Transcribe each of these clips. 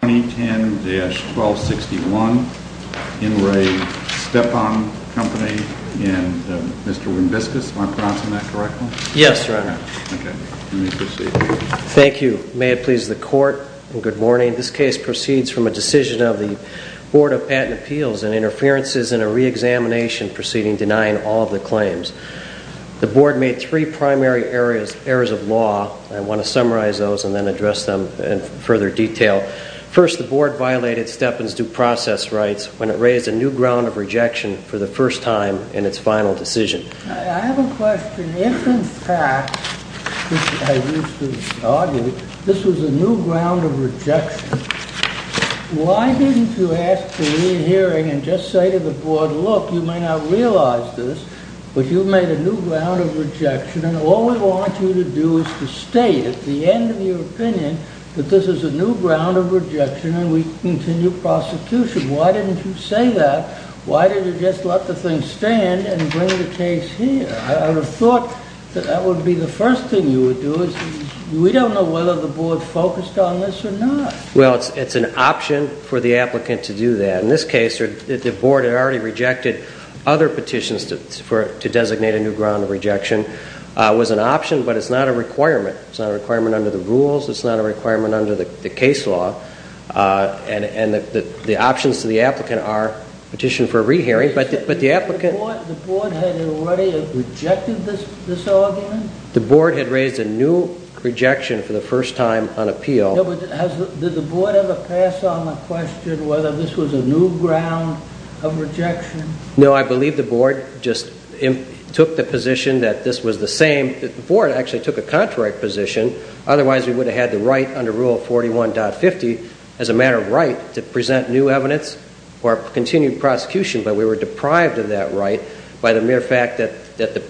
Thank you. May it please the Court, and good morning. This case proceeds from a decision of the Board of Patent Appeals and Interferences in a re-examination proceeding denying all of the claims. The Board made three primary errors of law. I want to summarize those and then address them in further detail. First, the Board violated Stepan's due process rights when it raised a new ground of rejection for the first time in its final decision. I have a question. If in fact, as I used to argue, this was a new ground of rejection, why didn't you ask for a re-hearing and just say to the Board, look, you may not realize this, but you've made a new ground of rejection, and all we want you to do is to state at the end of your opinion that this is a new ground of rejection and we continue prosecution. Why didn't you say that? Why didn't you just let the thing stand and bring the case here? I would have thought that that would be the first thing you would do. We don't know whether the Board focused on this or not. STEPAN CO Well, it's an option for the applicant to do that. In this case, the Board had already rejected other petitions to designate a new ground of rejection. It was an option, but it's not a requirement. It's not a requirement under the rules. It's not a requirement under the case law. And the options to the applicant are petition for a re-hearing, but the applicant – The Board had already rejected this argument? STEPAN CO The Board had raised a new rejection for the first time on appeal. Did the Board ever pass on the question whether this was a new ground of rejection? STEPAN CO No, I believe the Board just took the position that this was the same. The Board actually took a contrary position. Otherwise, we would have had the right under Rule 41.50 as a matter of right to present new evidence or continue prosecution, but we were deprived of that right by the mere fact that the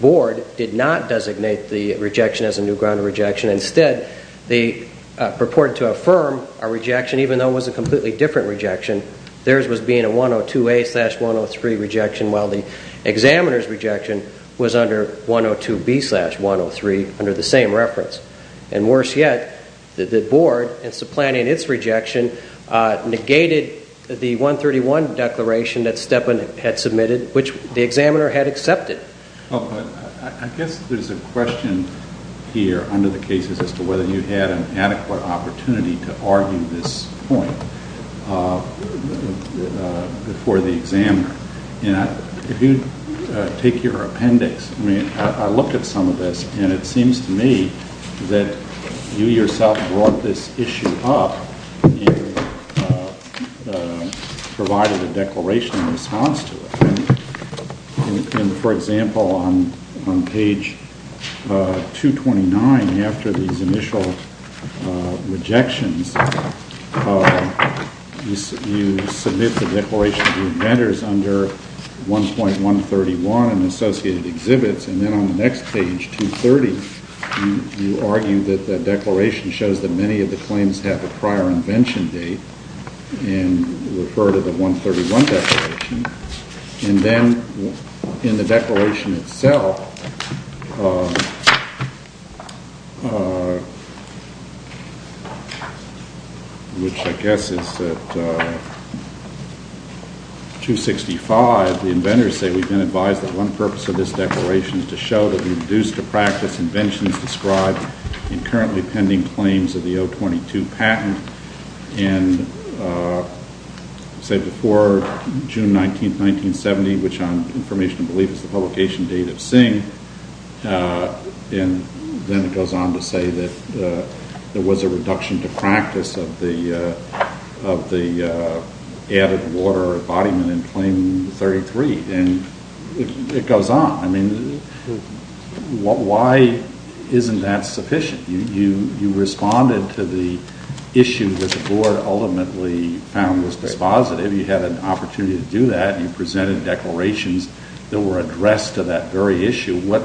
Board did not designate the rejection as a new ground of rejection. Instead, they purported to affirm a rejection even though it was a completely different rejection. Theirs was being a 102A-103 rejection while the examiner's rejection was under 102B-103 under the same reference. And worse yet, the Board, in supplanting its rejection, negated the 131 declaration that Stepan had submitted, which the examiner had accepted. I guess there's a question here under the cases as to whether you had an adequate opportunity to argue this point before the examiner. If you take your appendix, I mean, I looked at some of this and it seems to me that you yourself brought this issue up and provided a declaration in response to it. And, for example, on page 229, after these initial rejections, you submit the declaration of the inventors under 1.131 and associated exhibits, and then on the next page, 230, you argue that the declaration shows that many of the claims have a prior invention date and refer to the 131 declaration. And then, in the declaration itself, which I guess is at 265, the inventors say, we've been advised that one purpose of this declaration is to show that we reduce the practice inventions described in currently pending claims of the 422 patent, and say before June 19, 1970, which on information of belief is the publication date of Singh, and then it goes on to say that there was a reduction to practice of the added water embodiment in claim 33. And it goes on. I mean, why isn't that sufficient? You responded to the issue that the board ultimately found was dispositive. You had an opportunity to do that. You presented declarations that were addressed to that very issue. What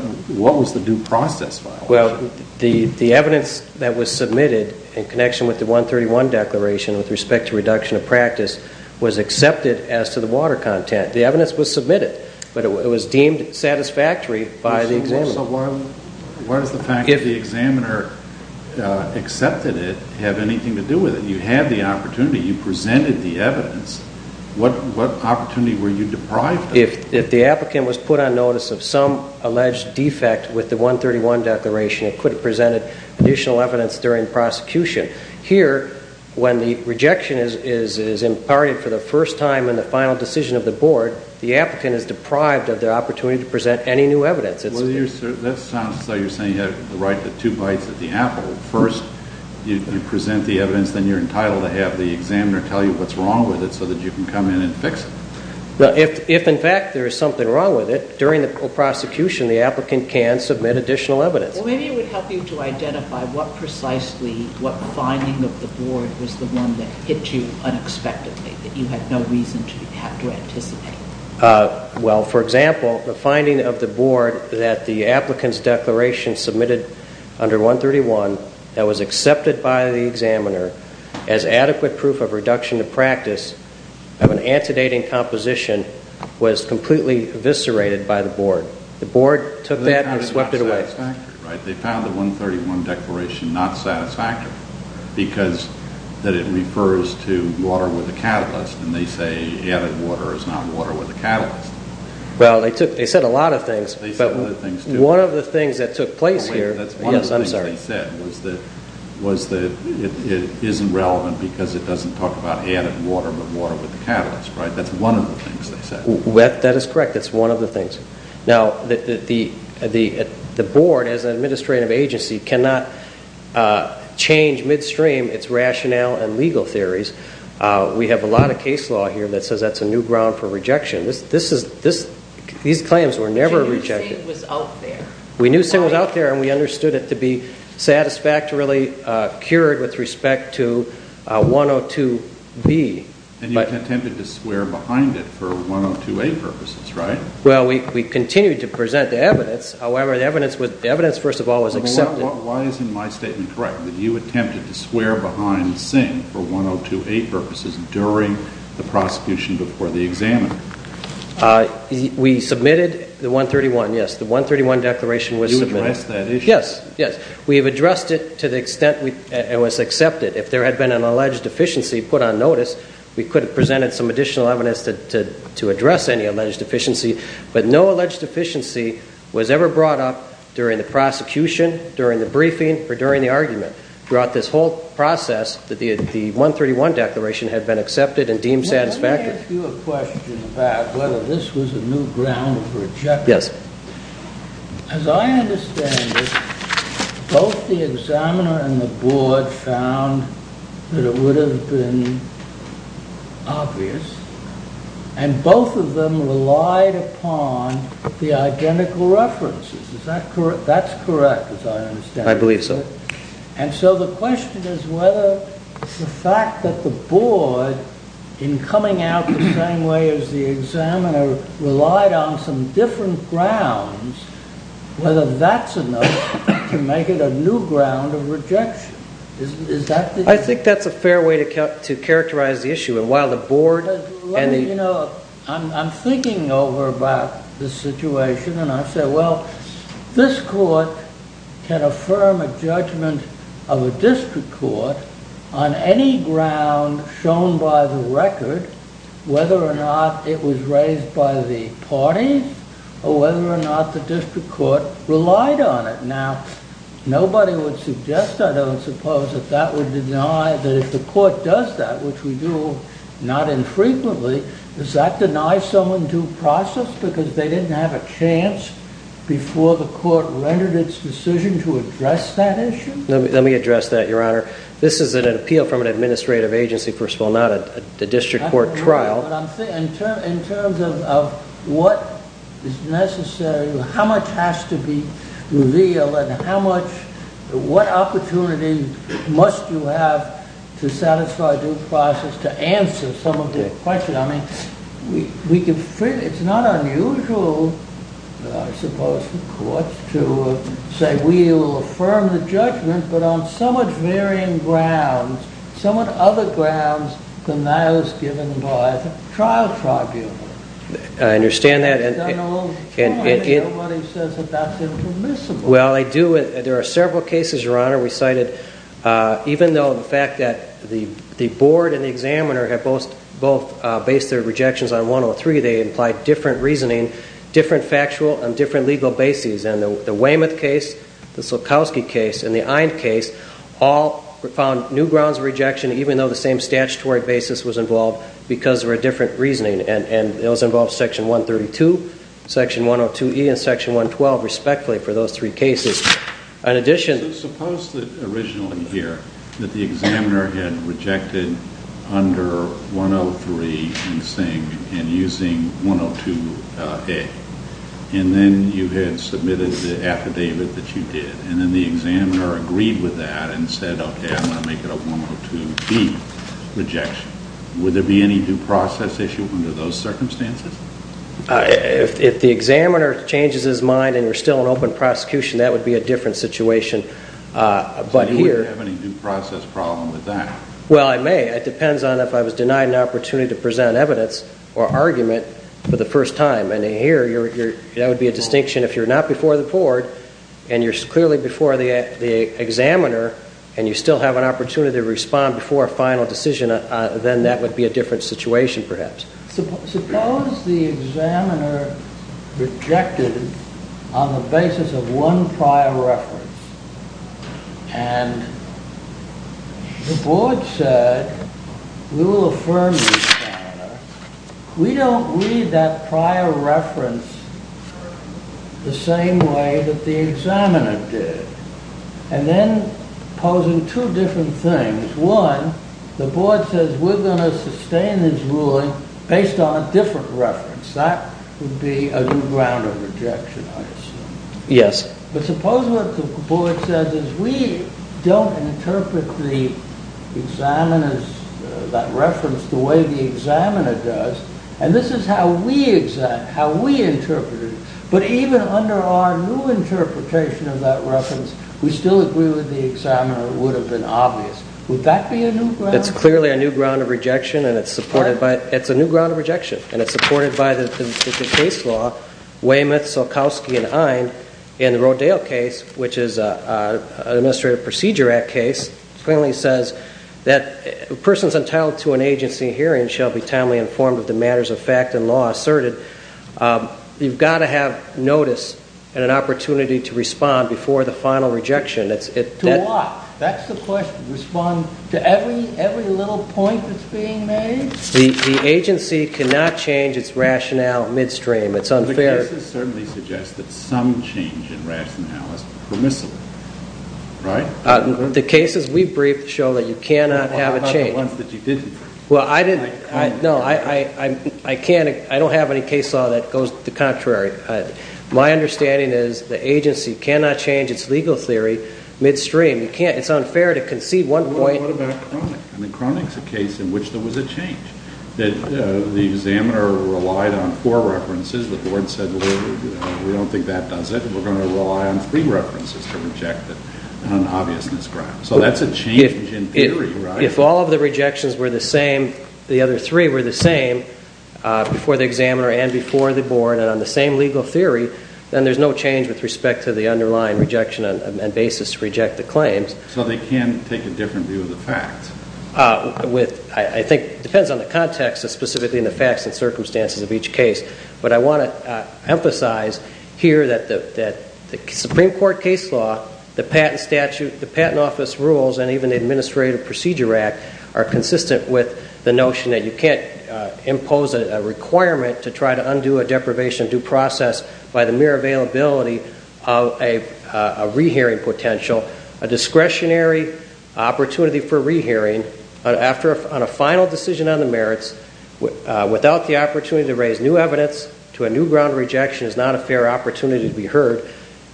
was the due process violation? Well, the evidence that was submitted in connection with the 131 declaration with respect to reduction of practice was accepted as to the water content. The evidence was submitted, but it was deemed satisfactory by the examiner. What does the fact that the examiner accepted it have anything to do with it? You had the opportunity. You presented the evidence. What opportunity were you deprived of? If the applicant was put on notice of some alleged defect with the 131 declaration, it could have presented additional evidence during prosecution. Here, when the rejection is imparted for the first time in the final decision of the board, the applicant is deprived of the opportunity to present any new evidence. That sounds like you're saying you have the right to two bites at the apple. First, you present the evidence, then you're entitled to have the examiner tell you what's wrong with it so that you can come in and fix it. If, in fact, there is something wrong with it, during the prosecution, the applicant can submit additional evidence. Maybe it would help you to identify what precisely, what finding of the board was the one that hit you unexpectedly, that you had no reason to have to anticipate? Well, for example, the finding of the board that the applicant's declaration submitted under 131 that was accepted by the examiner as adequate proof of reduction of practice of an antedating composition was completely eviscerated by the board. The board took that and swept it away. They found the 131 declaration not satisfactory because it refers to water with a catalyst and they say added water is not water with a catalyst. Well, they said a lot of things, but one of the things that took place here was that it isn't relevant because it doesn't talk about added water but water with a catalyst. That's one of the things they said. That is correct. That's one of the things. Now, the board as an administrative agency cannot change midstream its rationale and legal theories. We have a lot of case law here that says that's a new ground for rejection. These claims were never rejected. So you knew SIG was out there? We knew SIG was out there and we understood it to be satisfactorily cured with respect to 102B. And you attempted to swear behind it for 102A purposes, right? Well, we continued to present the evidence. However, the evidence, first of all, was accepted. Why isn't my statement correct that you attempted to swear behind SIG for 102A purposes during the prosecution before the examiner? We submitted the 131, yes. The 131 declaration was submitted. You addressed that issue? Yes, yes. We have addressed it to the extent it was accepted. If there had been an alleged deficiency put on notice, we could have presented some additional evidence to address any alleged deficiency. But no alleged deficiency was ever brought up during the prosecution, during the briefing, or during the argument. Throughout this whole process, the 131 declaration had been accepted and deemed satisfactory. Let me ask you a question about whether this was a new ground for rejection. Yes. As I understand it, both the examiner and the board found that it would have been obvious. And both of them relied upon the identical references. Is that correct? That's correct, as I understand it. I believe so. And so the question is whether the fact that the board, in coming out the same way as the examiner, relied on some different grounds, whether that's enough to make it a new ground of rejection. I think that's a fair way to characterize the issue. I'm thinking over about the situation and I say, well, this court can affirm a judgment of a district court on any ground shown by the record, whether or not it was raised by the parties, or whether or not the district court relied on it. Now, nobody would suggest, I don't suppose, that that would deny that if the court does that, which we do not infrequently, does that deny someone due process because they didn't have a chance before the court rendered its decision to address that issue? Let me address that, Your Honor. This is an appeal from an administrative agency, first of all, not a district court trial. In terms of what is necessary, how much has to be revealed, and what opportunity must you have to satisfy due process to answer some of the questions. It's not unusual, I suppose, for courts to say we will affirm the judgment, but on somewhat varying grounds, somewhat other grounds than those given by the trial tribunal. I understand that. Nobody says that that's impermissible. Well, I do. There are several cases, Your Honor, we cited. Even though the fact that the board and the examiner have both based their rejections on 103, they implied different reasoning, different factual, and different legal bases. And the Weymouth case, the Sulkowski case, and the Eind case all found new grounds of rejection, even though the same statutory basis was involved because of a different reasoning. And those involve section 132, section 102E, and section 112, respectively, for those three cases. In addition... So suppose that originally here that the examiner had rejected under 103 in Sing and using 102A, and then you had submitted the affidavit that you did, and then the examiner agreed with that and said, okay, I'm going to make it a 102B rejection. Would there be any due process issue under those circumstances? If the examiner changes his mind and you're still in open prosecution, that would be a different situation. So you wouldn't have any due process problem with that? Well, I may. It depends on if I was denied an opportunity to present evidence or argument for the first time. And here, that would be a distinction if you're not before the board and you're clearly before the examiner and you still have an opportunity to respond before a final decision, then that would be a different situation, perhaps. Suppose the examiner rejected on the basis of one prior reference, and the board said, we will affirm the examiner. We don't read that prior reference the same way that the examiner did. And then posing two different things. One, the board says we're going to sustain this ruling based on a different reference. That would be a new ground of rejection, I assume. Yes. But suppose what the board says is we don't interpret the examiner's reference the way the examiner does, and this is how we interpret it. But even under our new interpretation of that reference, we still agree with the examiner, it would have been obvious. Would that be a new ground? It's clearly a new ground of rejection, and it's supported by the case law, Weymouth, Sulkowski, and Eind. In the Rodale case, which is an Administrative Procedure Act case, it clearly says that persons entitled to an agency hearing shall be timely informed of the matters of fact and law asserted. You've got to have notice and an opportunity to respond before the final rejection. To what? That's the question. Respond to every little point that's being made? The agency cannot change its rationale midstream. The cases certainly suggest that some change in rationale is permissible, right? The cases we've briefed show that you cannot have a change. What about the ones that you didn't? No, I don't have any case law that goes the contrary. My understanding is the agency cannot change its legal theory midstream. It's unfair to concede one point. What about Cronick? Cronick's a case in which there was a change. The examiner relied on four references. The board said, we don't think that does it. We're going to rely on three references to reject it on an obviousness ground. So that's a change in theory, right? If all of the rejections were the same, the other three were the same, before the examiner and before the board and on the same legal theory, then there's no change with respect to the underlying rejection and basis to reject the claims. So they can take a different view of the facts? I think it depends on the context and specifically on the facts and circumstances of each case. But I want to emphasize here that the Supreme Court case law, the patent statute, the Patent Office rules and even the Administrative Procedure Act are consistent with the notion that you can't impose a requirement to try to undo a deprivation due process by the mere availability of a re-hearing potential. A discretionary opportunity for re-hearing on a final decision on the merits, without the opportunity to raise new evidence to a new ground of rejection, is not a fair opportunity to be heard.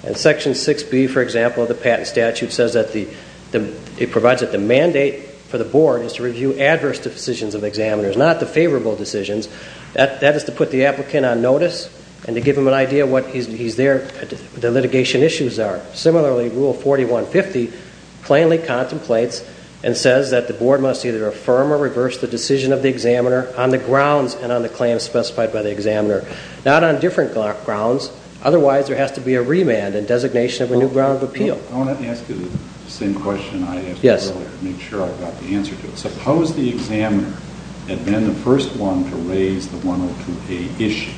And Section 6B, for example, of the patent statute says that it provides that the mandate for the board is to review adverse decisions of examiners, not the favorable decisions. That is to put the applicant on notice and to give them an idea of what the litigation issues are. Similarly, Rule 4150 plainly contemplates and says that the board must either affirm or reverse the decision of the examiner on the grounds and on the claims specified by the examiner. Not on different grounds, otherwise there has to be a remand and designation of a new ground of appeal. I want to ask you the same question I asked earlier to make sure I got the answer to it. Suppose the examiner had been the first one to raise the 102A issue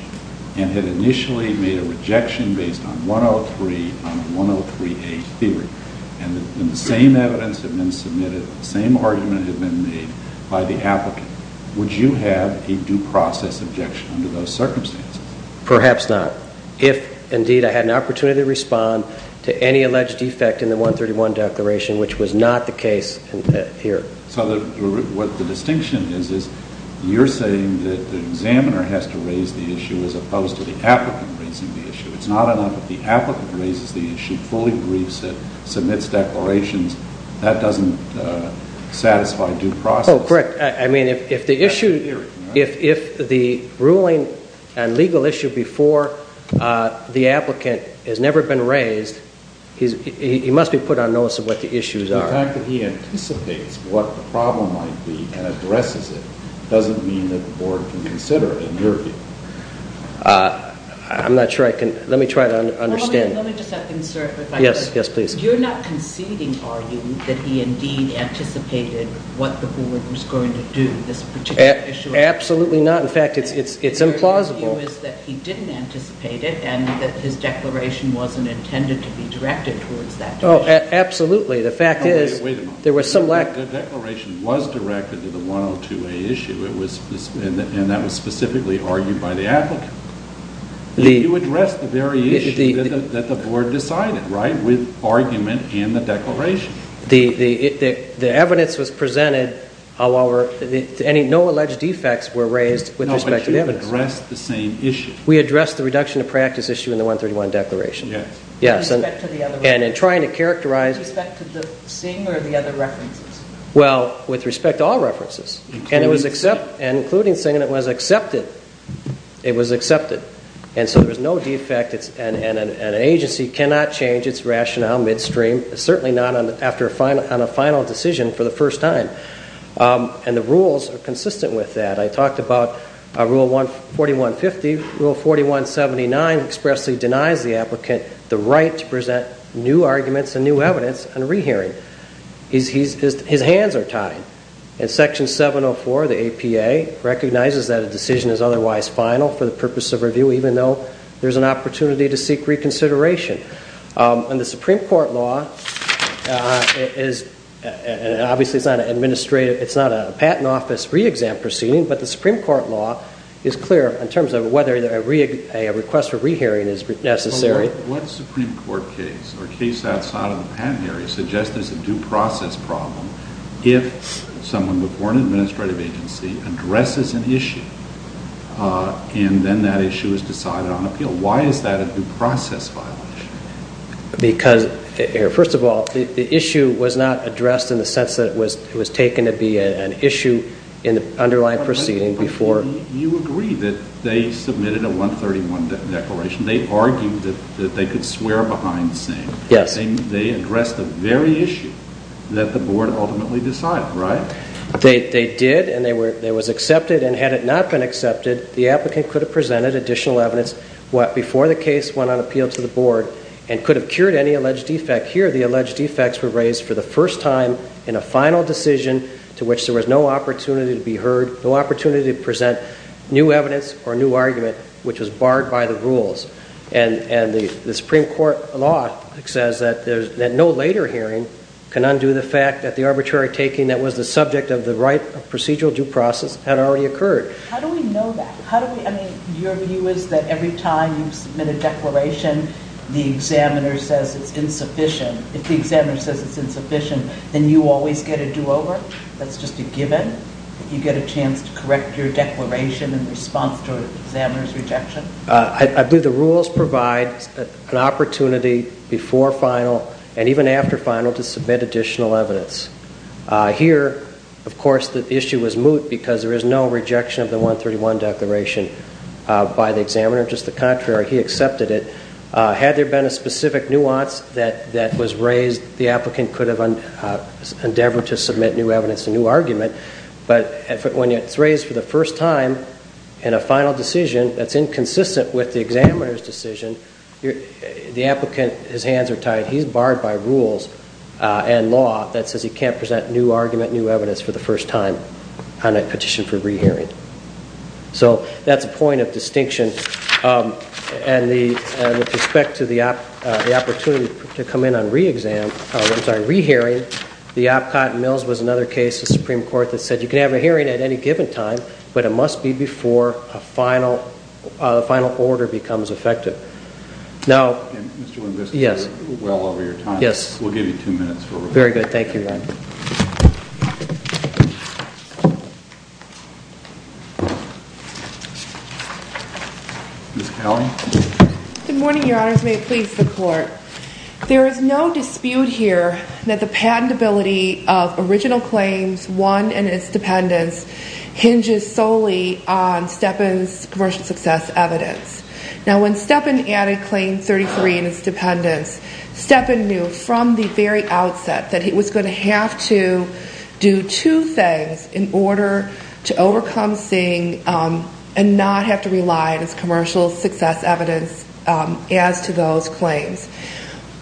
and had initially made a rejection based on 103 on the 103A theory. And the same evidence had been submitted, the same argument had been made by the applicant. Would you have a due process objection under those circumstances? Perhaps not. If, indeed, I had an opportunity to respond to any alleged defect in the 131 declaration, which was not the case here. So what the distinction is, is you're saying that the examiner has to raise the issue as opposed to the applicant raising the issue. It's not enough if the applicant raises the issue, fully agrees to it, submits declarations. That doesn't satisfy due process. No, correct. I mean, if the issue, if the ruling and legal issue before the applicant has never been raised, he must be put on notice of what the issues are. The fact that he anticipates what the problem might be and addresses it doesn't mean that the board can consider it, in your view. I'm not sure I can, let me try to understand. You're not conceding, are you, that he indeed anticipated what the board was going to do with this particular issue? Absolutely not. In fact, it's implausible. Your view is that he didn't anticipate it and that his declaration wasn't intended to be directed towards that issue. Oh, absolutely. The fact is, there was some lack... The declaration was directed to the 102A issue, and that was specifically argued by the applicant. You addressed the very issue that the board decided, right, with argument in the declaration. The evidence was presented, however, no alleged defects were raised with respect to the evidence. No, but you addressed the same issue. We addressed the reduction of practice issue in the 131 declaration. Yes. And in trying to characterize... With respect to the Singh or the other references? Well, with respect to all references. Including Singh. It was accepted. And so there was no defect, and an agency cannot change its rationale midstream, certainly not after a final decision for the first time. And the rules are consistent with that. I talked about Rule 4150. Rule 4179 expressly denies the applicant the right to present new arguments and new evidence on rehearing. His hands are tied. And Section 704 of the APA recognizes that a decision is otherwise final for the purpose of review even though there's an opportunity to seek reconsideration. And the Supreme Court law is... Obviously, it's not an administrative... It's not a patent office re-exam proceeding, but the Supreme Court law is clear in terms of whether a request for rehearing is necessary. What Supreme Court case or case outside of the patent area suggests there's a due process problem if someone with one administrative agency addresses an issue, and then that issue is decided on appeal. Why is that a due process violation? Because, first of all, the issue was not addressed in the sense that it was taken to be an issue in the underlying proceeding before... You agree that they submitted a 131 declaration. They argued that they could swear behind Singh. Yes. They addressed the very issue that the board ultimately decided, right? They did, and it was accepted. And had it not been accepted, the applicant could have presented additional evidence before the case went on appeal to the board and could have cured any alleged defect. Here, the alleged defects were raised for the first time in a final decision to which there was no opportunity to be heard, no opportunity to present new evidence or new argument, which was barred by the rules. And the Supreme Court law says that no later hearing can undo the fact that the arbitrary taking that was the subject of the right of procedural due process had already occurred. How do we know that? I mean, your view is that every time you submit a declaration, the examiner says it's insufficient. If the examiner says it's insufficient, then you always get a do-over? That's just a given? You get a chance to correct your declaration in response to an examiner's rejection? I believe the rules provide an opportunity before final and even after final to submit additional evidence. Here, of course, the issue was moot because there is no rejection of the 131 declaration by the examiner. Just the contrary, he accepted it. Had there been a specific nuance that was raised, the applicant could have endeavored to submit new evidence and new argument, but when it's raised for the first time in a final decision, that's inconsistent with the examiner's decision, the applicant, his hands are tied. He's barred by rules and law that says he can't present new argument, new evidence for the first time on a petition for re-hearing. So that's a point of distinction. And with respect to the opportunity to come in on re-exam, I'm sorry, re-hearing, the OPCOT and Mills was another case in the Supreme Court that said you can have a hearing at any given time, but it must be before a final order becomes effective. Now, yes. We'll give you two minutes. Very good. Thank you, Ron. Good morning, Your Honors. May it please the Court. There is no dispute here that the patentability of original claims, one and its dependents, hinges solely on Stepin's commercial success evidence. Now, when Stepin added Claim 33 and its dependents, Stepin knew from the very outset that he was going to have to do two things in order to overcome seeing and not have to rely on his commercial success evidence as to those claims.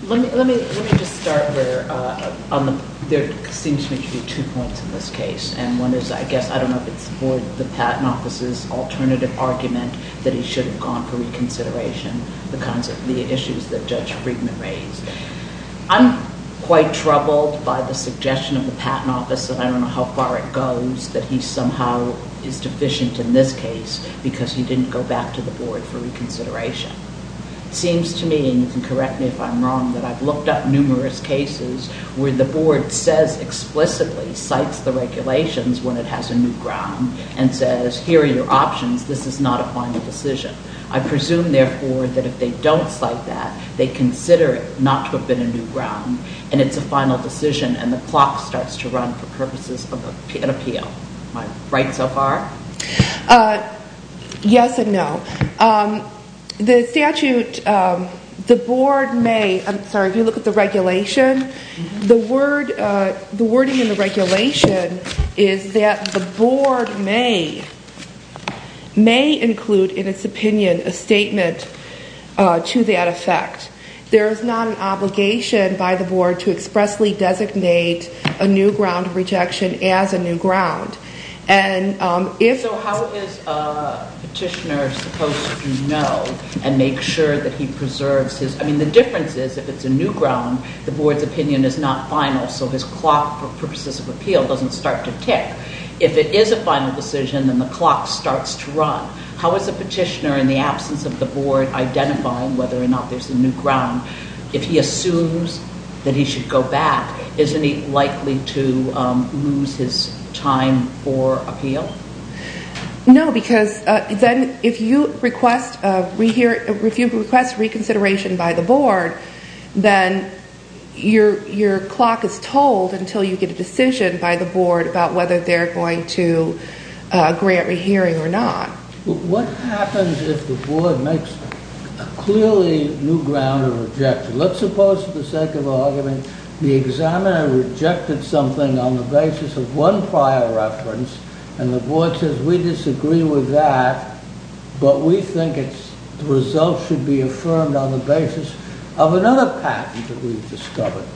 Let me just start where there seems to be two points in this case. And one is, I guess, I don't know if it's the Patent Office's alternative argument that he should have gone for reconsideration, the issues that Judge Friedman raised. I'm quite troubled by the suggestion of the Patent Office, and I don't know how far it goes, that he somehow is deficient in this case because he didn't go back to the Board for reconsideration. It seems to me, and you can correct me if I'm wrong, that I've looked up numerous cases where the Board says explicitly, cites the regulations when it has a new ground, and says, here are your options. This is not a final decision. I presume, therefore, that if they don't cite that, they consider it not to have been a new ground, and it's a final decision, and the clock starts to run for purposes of an appeal. Am I right so far? Yes and no. The statute, the Board may, I'm sorry, if you look at the regulation, the wording in the regulation is that the Board may include in its opinion a statement to that effect. There is not an obligation by the Board to expressly designate a new ground of rejection as a new ground. So how is a petitioner supposed to know and make sure that he preserves his, I mean, the difference is, if it's a new ground, the Board's opinion is not final, so his clock for purposes of appeal doesn't start to tick. If it is a final decision, then the clock starts to run. How is a petitioner, in the absence of the Board identifying whether or not there's a new ground, if he assumes that he should go back, isn't he likely to lose his time for appeal? No, because then if you request reconsideration by the Board, then your clock is told until you get a decision by the Board about whether they're going to grant a hearing or not. What happens if the Board makes a clearly new ground of rejection? Let's suppose, for the sake of argument, the examiner rejected something on the basis of one prior reference, and the Board says, we disagree with that, but we think the result should be affirmed on the basis of another patent that we've discovered,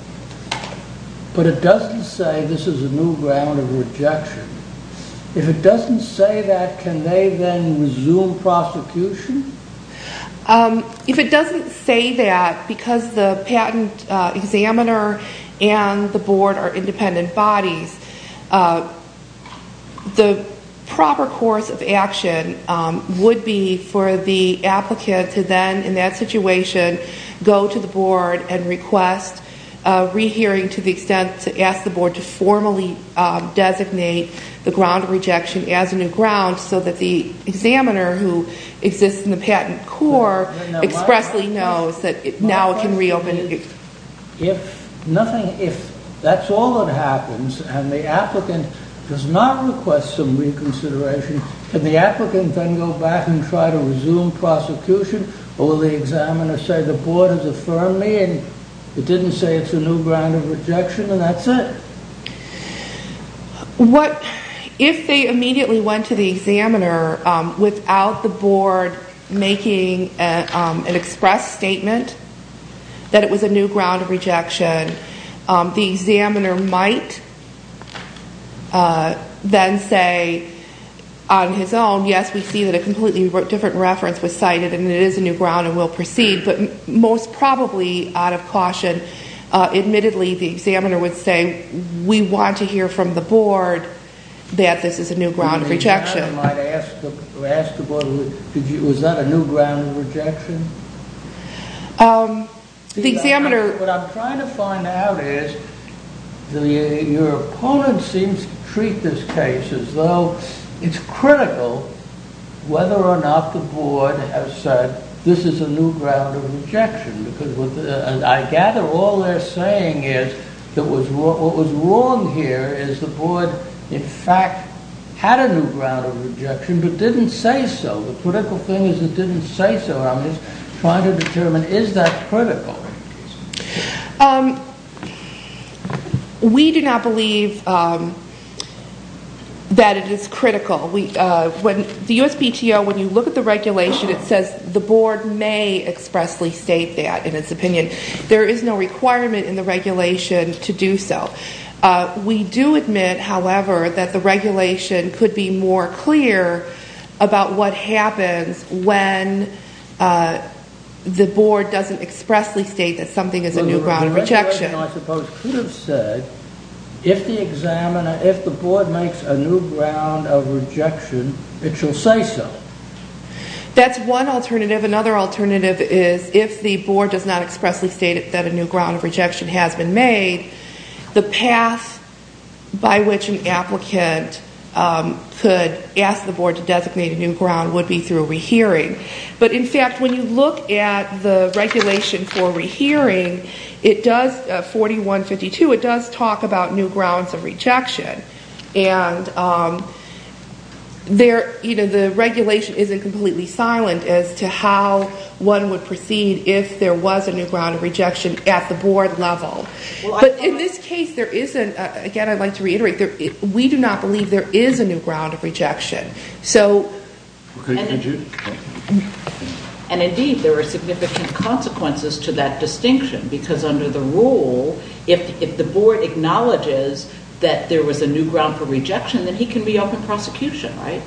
but it doesn't say this is a new ground of rejection. If it doesn't say that, can they then resume prosecution? If it doesn't say that, because the patent examiner and the Board are independent bodies, the proper course of action would be for the applicant to then, in that situation, go to the Board and request a rehearing to the extent to ask the Board to formally designate the ground of rejection as a new ground, so that the examiner, who exists in the patent core, expressly knows that now it can reopen. If that's all that happens, and the applicant does not request some reconsideration, can the applicant then go back and try to resume prosecution, or will the examiner say, the Board has affirmed me, and it didn't say it's a new ground of rejection, and that's it? If they immediately went to the examiner without the Board making an express statement that it was a new ground of rejection, the examiner might then say, on his own, yes, we see that a completely different reference was cited, and it is a new ground, and we'll proceed, but most probably, out of caution, admittedly, the examiner would say, we want to hear from the Board that this is a new ground of rejection. The examiner might ask the Board, was that a new ground of rejection? What I'm trying to find out is, your opponent seems to treat this case as though it's critical whether or not the Board has said, this is a new ground of rejection, because I gather all they're saying is, what was wrong here is the Board, in fact, had a new ground of rejection, but didn't say so. The critical thing is it didn't say so. I'm just trying to determine, is that critical? We do not believe that it is critical. The USPTO, when you look at the regulation, it says the Board may expressly state that, in its opinion. There is no requirement in the regulation to do so. We do admit, however, that the regulation could be more clear about what happens when the Board doesn't expressly state that something is a new ground of rejection. The examiner, I suppose, could have said, if the Board makes a new ground of rejection, it shall say so. That's one alternative. Another alternative is, if the Board does not expressly state that a new ground of rejection has been made, the path by which an applicant could ask the Board to designate a new ground would be through a rehearing. But, in fact, when you look at the regulation for a rehearing, 4152, it does talk about new grounds of rejection. The regulation isn't completely silent as to how one would proceed if there was a new ground of rejection at the Board level. But, in this case, there isn't. Again, I'd like to reiterate, we do not believe there is a new ground of rejection. And, indeed, there are significant consequences to that distinction. Because, under the rule, if the Board acknowledges that there was a new ground for rejection, then he can reopen prosecution, right?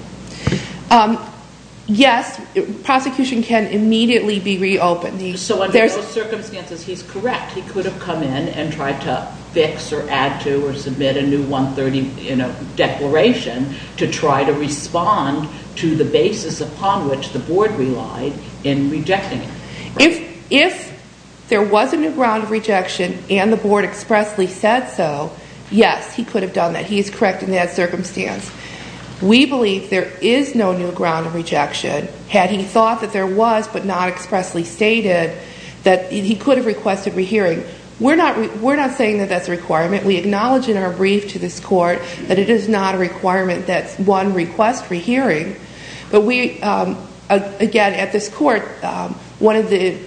Yes. Prosecution can immediately be reopened. So, under those circumstances, he's correct. He could have come in and tried to fix or add to or submit a new 130 declaration to try to respond to the basis upon which the Board relied in rejecting it. If there was a new ground of rejection and the Board expressly said so, yes, he could have done that. He is correct in that circumstance. We believe there is no new ground of rejection. Had he thought that there was but not expressly stated, he could have requested a rehearing. We're not saying that that's a requirement. We acknowledge in our brief to this Court that it is not a requirement. That's one request for hearing. But we, again, at this Court, one of the,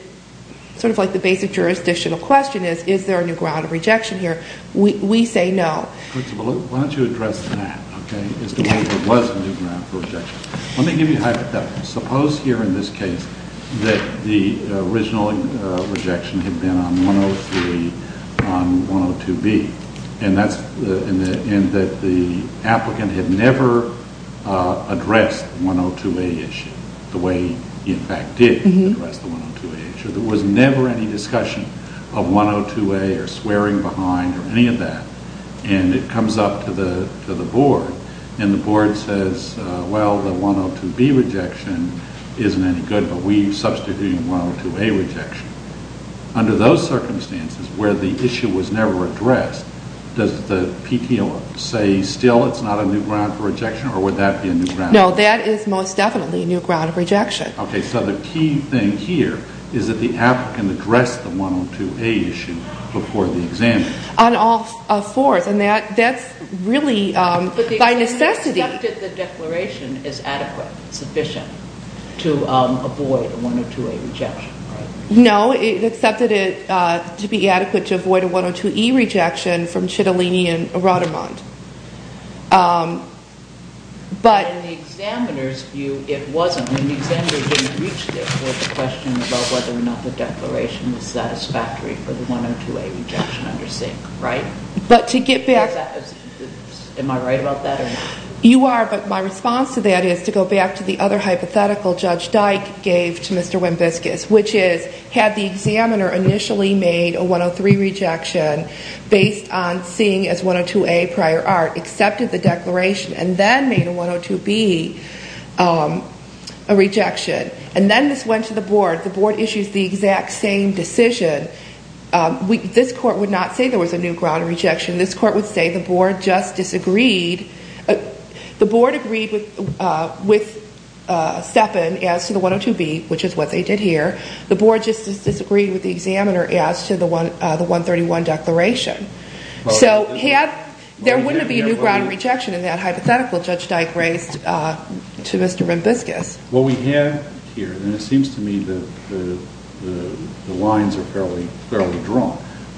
sort of like the basic jurisdictional question is, is there a new ground of rejection here? We say no. Principal, why don't you address that, okay, as to whether there was a new ground for rejection. Let me give you a hypothetical. Suppose here in this case that the original rejection had been on 103 on 102B and that the applicant had never addressed the 102A issue the way he, in fact, did address the 102A issue. There was never any discussion of 102A or swearing behind or any of that. And it comes up to the Board and the Board says, well, the 102B rejection isn't any good, but we substitute in 102A rejection. Under those circumstances where the issue was never addressed, does the PTO say still it's not a new ground for rejection or would that be a new ground? No, that is most definitely a new ground of rejection. Okay, so the key thing here is that the applicant addressed the 102A issue before the exam. On all fours, and that's really by necessity. But the examiner accepted the declaration as adequate, sufficient to avoid a 102A rejection, right? No, it accepted it to be adequate to avoid a 102E rejection from Citalini and Rottermund. But in the examiner's view, it wasn't. The examiner didn't reach there for the question about whether or not the declaration was satisfactory for the 102A rejection under Singh, right? But to get back... Am I right about that or not? You are, but my response to that is to go back to the other hypothetical Judge Dyke gave to Mr. Wimbiscus, which is had the examiner initially made a 103 rejection based on Singh as 102A prior art, accepted the declaration, and then made a 102B rejection, and then this went to the board. The board issues the exact same decision. This court would not say there was a new ground of rejection. This court would say the board just disagreed. The board agreed with Steppen as to the 102B, which is what they did here. The board just disagreed with the examiner as to the 131 declaration. So there wouldn't be a new ground of rejection in that hypothetical Judge Dyke raised to Mr. Wimbiscus. What we have here, and it seems to me the lines are fairly drawn,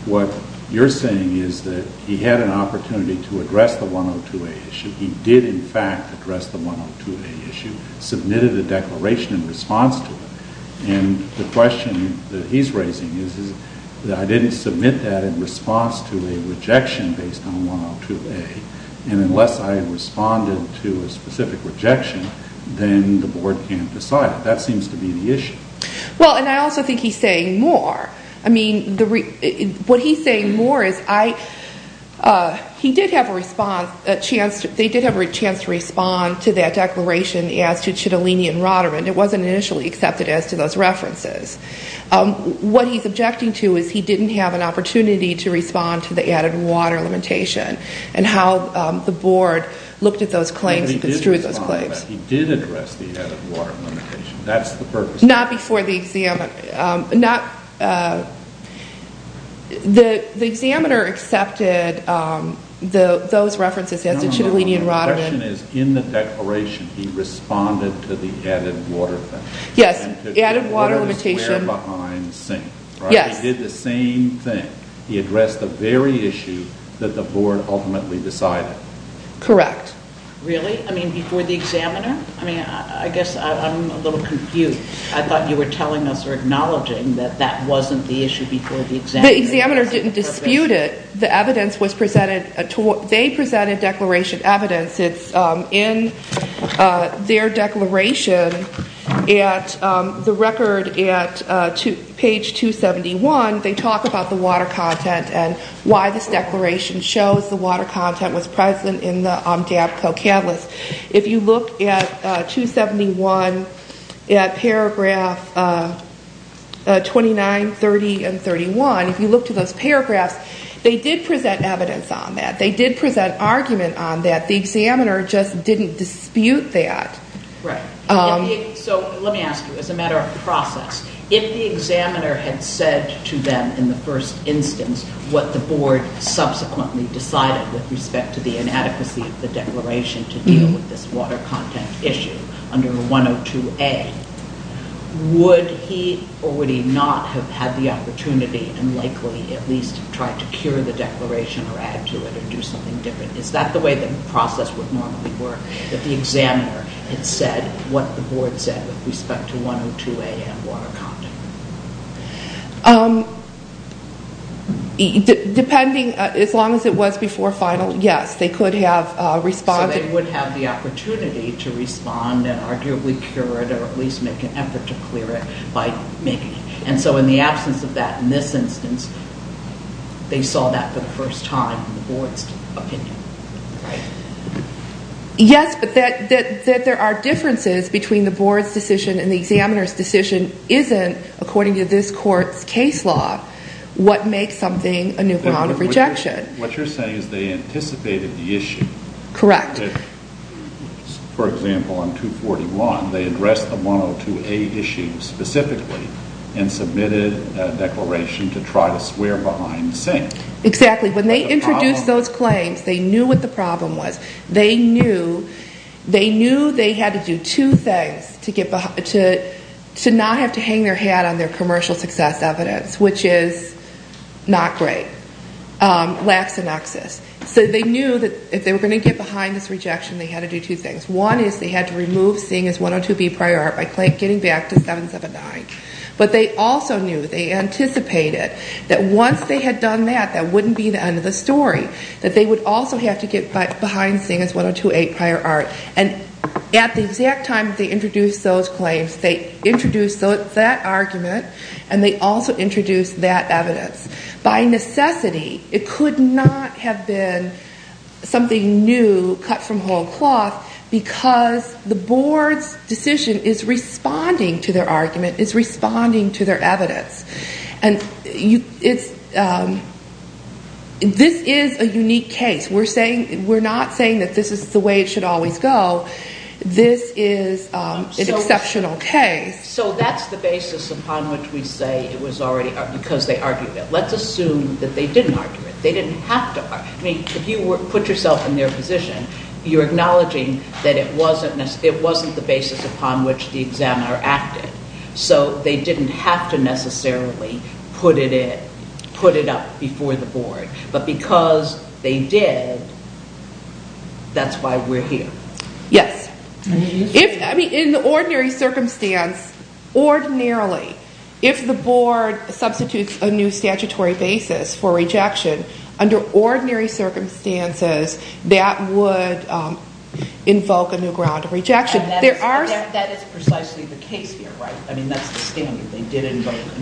what you're saying is that he had an opportunity to address the 102A issue. He did, in fact, address the 102A issue, submitted a declaration in response to it, and the question that he's raising is that I didn't submit that in response to a rejection based on 102A, and unless I responded to a specific rejection, then the board can't decide it. That seems to be the issue. Well, and I also think he's saying more. I mean, what he's saying more is he did have a response, they did have a chance to respond to that declaration as to Citalini and Roderman. It wasn't initially accepted as to those references. What he's objecting to is he didn't have an opportunity to respond to the added water limitation and how the board looked at those claims and construed those claims. He did address the added water limitation. That's the purpose. Not before the examiner. The examiner accepted those references as to Citalini and Roderman. The question is, in the declaration, he responded to the added water thing. Yes, the added water limitation. He did the same thing. He addressed the very issue that the board ultimately decided. Correct. Really? I mean, before the examiner? I mean, I guess I'm a little confused. I thought you were telling us or acknowledging that that wasn't the issue before the examiner. The examiner didn't dispute it. They presented declaration evidence. In their declaration, the record at page 271, they talk about the water content and why this declaration shows the water content was present in the Amdabco catalyst. If you look at 271 at paragraph 29, 30, and 31, if you look to those paragraphs, they did present evidence on that. They did present argument on that. The examiner just didn't dispute that. Right. Let me ask you, as a matter of process, if the examiner had said to them in the first instance what the board subsequently decided with respect to the inadequacy of the declaration to deal with this water content issue under 102A, would he or would he not have had the opportunity and likely at least tried to cure the declaration or add to it or do something different? Is that the way the process would normally work, if the examiner had said what the board said with respect to 102A and water content? Depending, as long as it was before final, yes, they could have responded. But they would have the opportunity to respond and arguably cure it or at least make an effort to clear it by making it. And so in the absence of that in this instance, they saw that for the first time in the board's opinion. Yes, but that there are differences between the board's decision and the examiner's decision isn't, according to this court's case law, what makes something a new ground of rejection. What you're saying is they anticipated the issue. Correct. For example, on 241, they addressed the 102A issue specifically and submitted a declaration to try to swear behind the scenes. Exactly. When they introduced those claims, they knew what the problem was. They knew they had to do two things to not have to hang their hat on their commercial success evidence, which is not great. Lack of access. So they knew that if they were going to get behind this rejection, they had to do two things. One is they had to remove seeing as 102B prior art by getting back to 779. But they also knew, they anticipated that once they had done that, that wouldn't be the end of the story, that they would also have to get behind seeing as 102A prior art. And at the exact time they introduced those claims, they introduced that argument and they also introduced that evidence. By necessity, it could not have been something new cut from whole cloth because the board's decision is responding to their argument, is responding to their evidence. And this is a unique case. We're not saying that this is the way it should always go. This is an exceptional case. So that's the basis upon which we say it was already because they argued it. Let's assume that they didn't argue it. They didn't have to argue it. If you put yourself in their position, you're acknowledging that it wasn't the basis upon which the examiner acted. So they didn't have to necessarily put it up before the board. But because they did, that's why we're here. Yes. In the ordinary circumstance, ordinarily, if the board substitutes a new statutory basis for rejection, under ordinary circumstances, that would invoke a new ground of rejection. That is precisely the case here, right? I mean, that's the standard.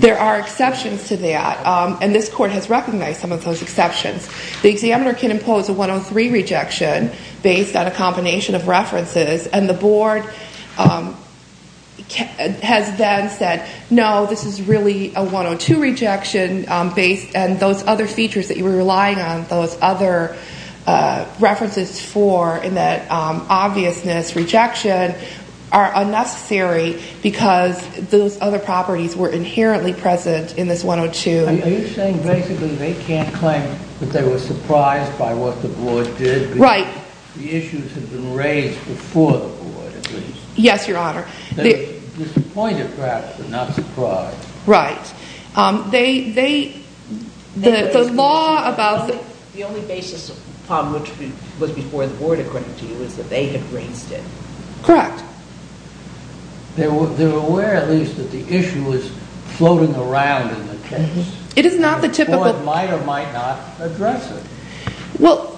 There are exceptions to that, and this court has recognized some of those exceptions. The examiner can impose a 103 rejection based on a combination of references, and the board has then said, no, this is really a 102 rejection, and those other features that you were relying on, those other references for, in that obviousness, rejection, are unnecessary because those other properties were inherently present in this 102. Are you saying basically they can't claim that they were surprised by what the board did? Right. The issues had been raised before the board, at least. Yes, Your Honor. Disappointed, perhaps, but not surprised. Right. The law about the- The only basis upon which it was before the board, according to you, is that they had raised it. Correct. They were aware, at least, that the issue was floating around in the case. It is not the typical- The board might or might not address it. Well,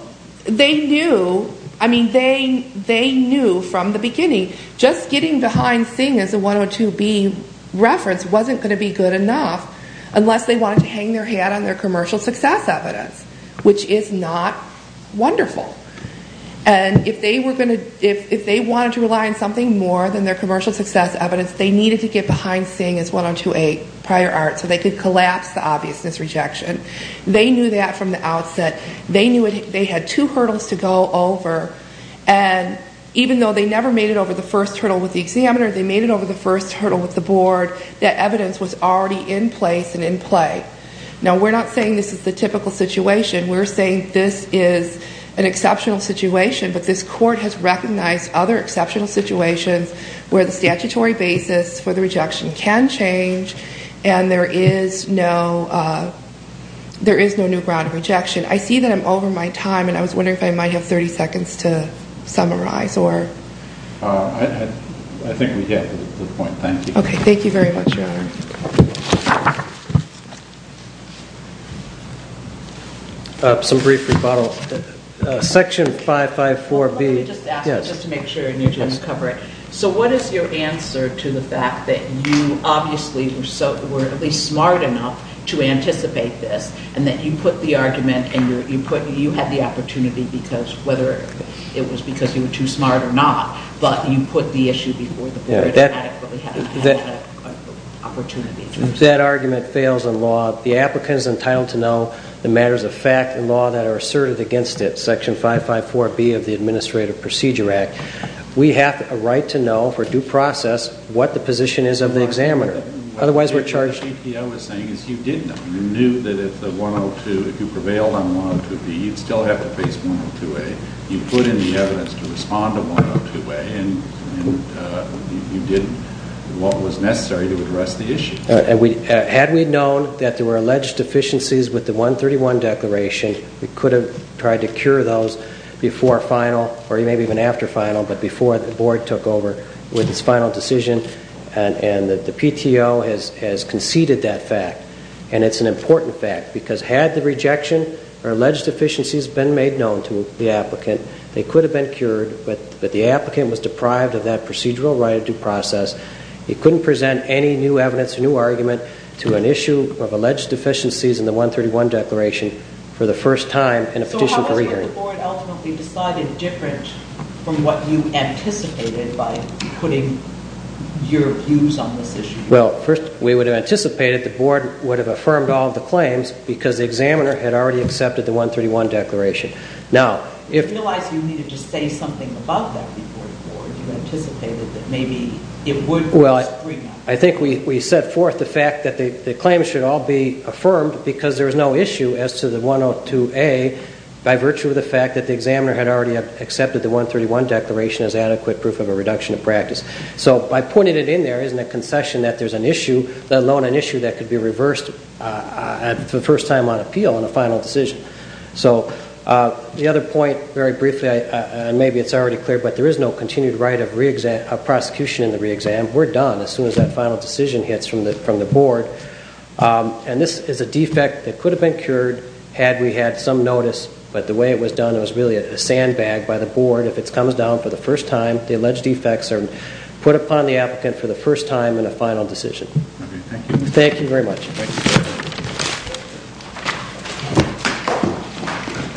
they knew, I mean, they knew from the beginning just getting behind Singh as a 102B reference wasn't going to be good enough unless they wanted to hang their hat on their commercial success evidence, which is not wonderful. And if they wanted to rely on something more than their commercial success evidence, they needed to get behind Singh as 102A prior art so they could collapse the obviousness rejection. They knew that from the outset. They knew they had two hurdles to go over, and even though they never made it over the first hurdle with the examiner, they made it over the first hurdle with the board, that evidence was already in place and in play. Now, we're not saying this is the typical situation. We're saying this is an exceptional situation, but this court has recognized other exceptional situations where the statutory basis for the rejection can change and there is no new ground of rejection. I see that I'm over my time, and I was wondering if I might have 30 seconds to summarize. I think we have at this point. Thank you. Okay. Thank you very much, Your Honor. Some brief rebuttal. Section 554B- Let me just ask, just to make sure, and you can cover it. So what is your answer to the fact that you, obviously, were at least smart enough to anticipate this and that you put the argument and you had the opportunity whether it was because you were too smart or not, but you put the issue before the board and adequately had the opportunity. If that argument fails in law, the applicant is entitled to know the matters of fact and law that are asserted against it, Section 554B of the Administrative Procedure Act. We have a right to know for due process what the position is of the examiner. Otherwise, we're charged... What the GPO was saying is you did know. You knew that if the 102, if you prevailed on 102B, you'd still have to face 102A. You put in the evidence to respond to 102A, and you did what was necessary to address the issue. Had we known that there were alleged deficiencies with the 131 declaration, we could have tried to cure those before final or maybe even after final, but before the board took over with its final decision. And the PTO has conceded that fact, and it's an important fact because had the rejection or alleged deficiencies been made known to the applicant, they could have been cured, but the applicant was deprived of that procedural right of due process. He couldn't present any new evidence or new argument to an issue of alleged deficiencies in the 131 declaration for the first time in a petition for re-hearing. Why was the board ultimately decided different from what you anticipated by putting your views on this issue? Well, first, we would have anticipated the board would have affirmed all of the claims because the examiner had already accepted the 131 declaration. Now, if... You realized you needed to say something about that before the board. You anticipated that maybe it would... Well, I think we set forth the fact that the claims should all be affirmed because there was no issue as to the 102A by virtue of the fact that the examiner had already accepted the 131 declaration as adequate proof of a reduction of practice. So by pointing it in there isn't a concession that there's an issue, let alone an issue that could be reversed for the first time on appeal in a final decision. So the other point, very briefly, and maybe it's already clear, but there is no continued right of prosecution in the re-exam. We're done as soon as that final decision hits from the board. And this is a defect that could have been cured had we had some notice, but the way it was done, it was really a sandbag by the board. If it comes down for the first time, the alleged defects are put upon the applicant for the first time in a final decision. Thank you very much.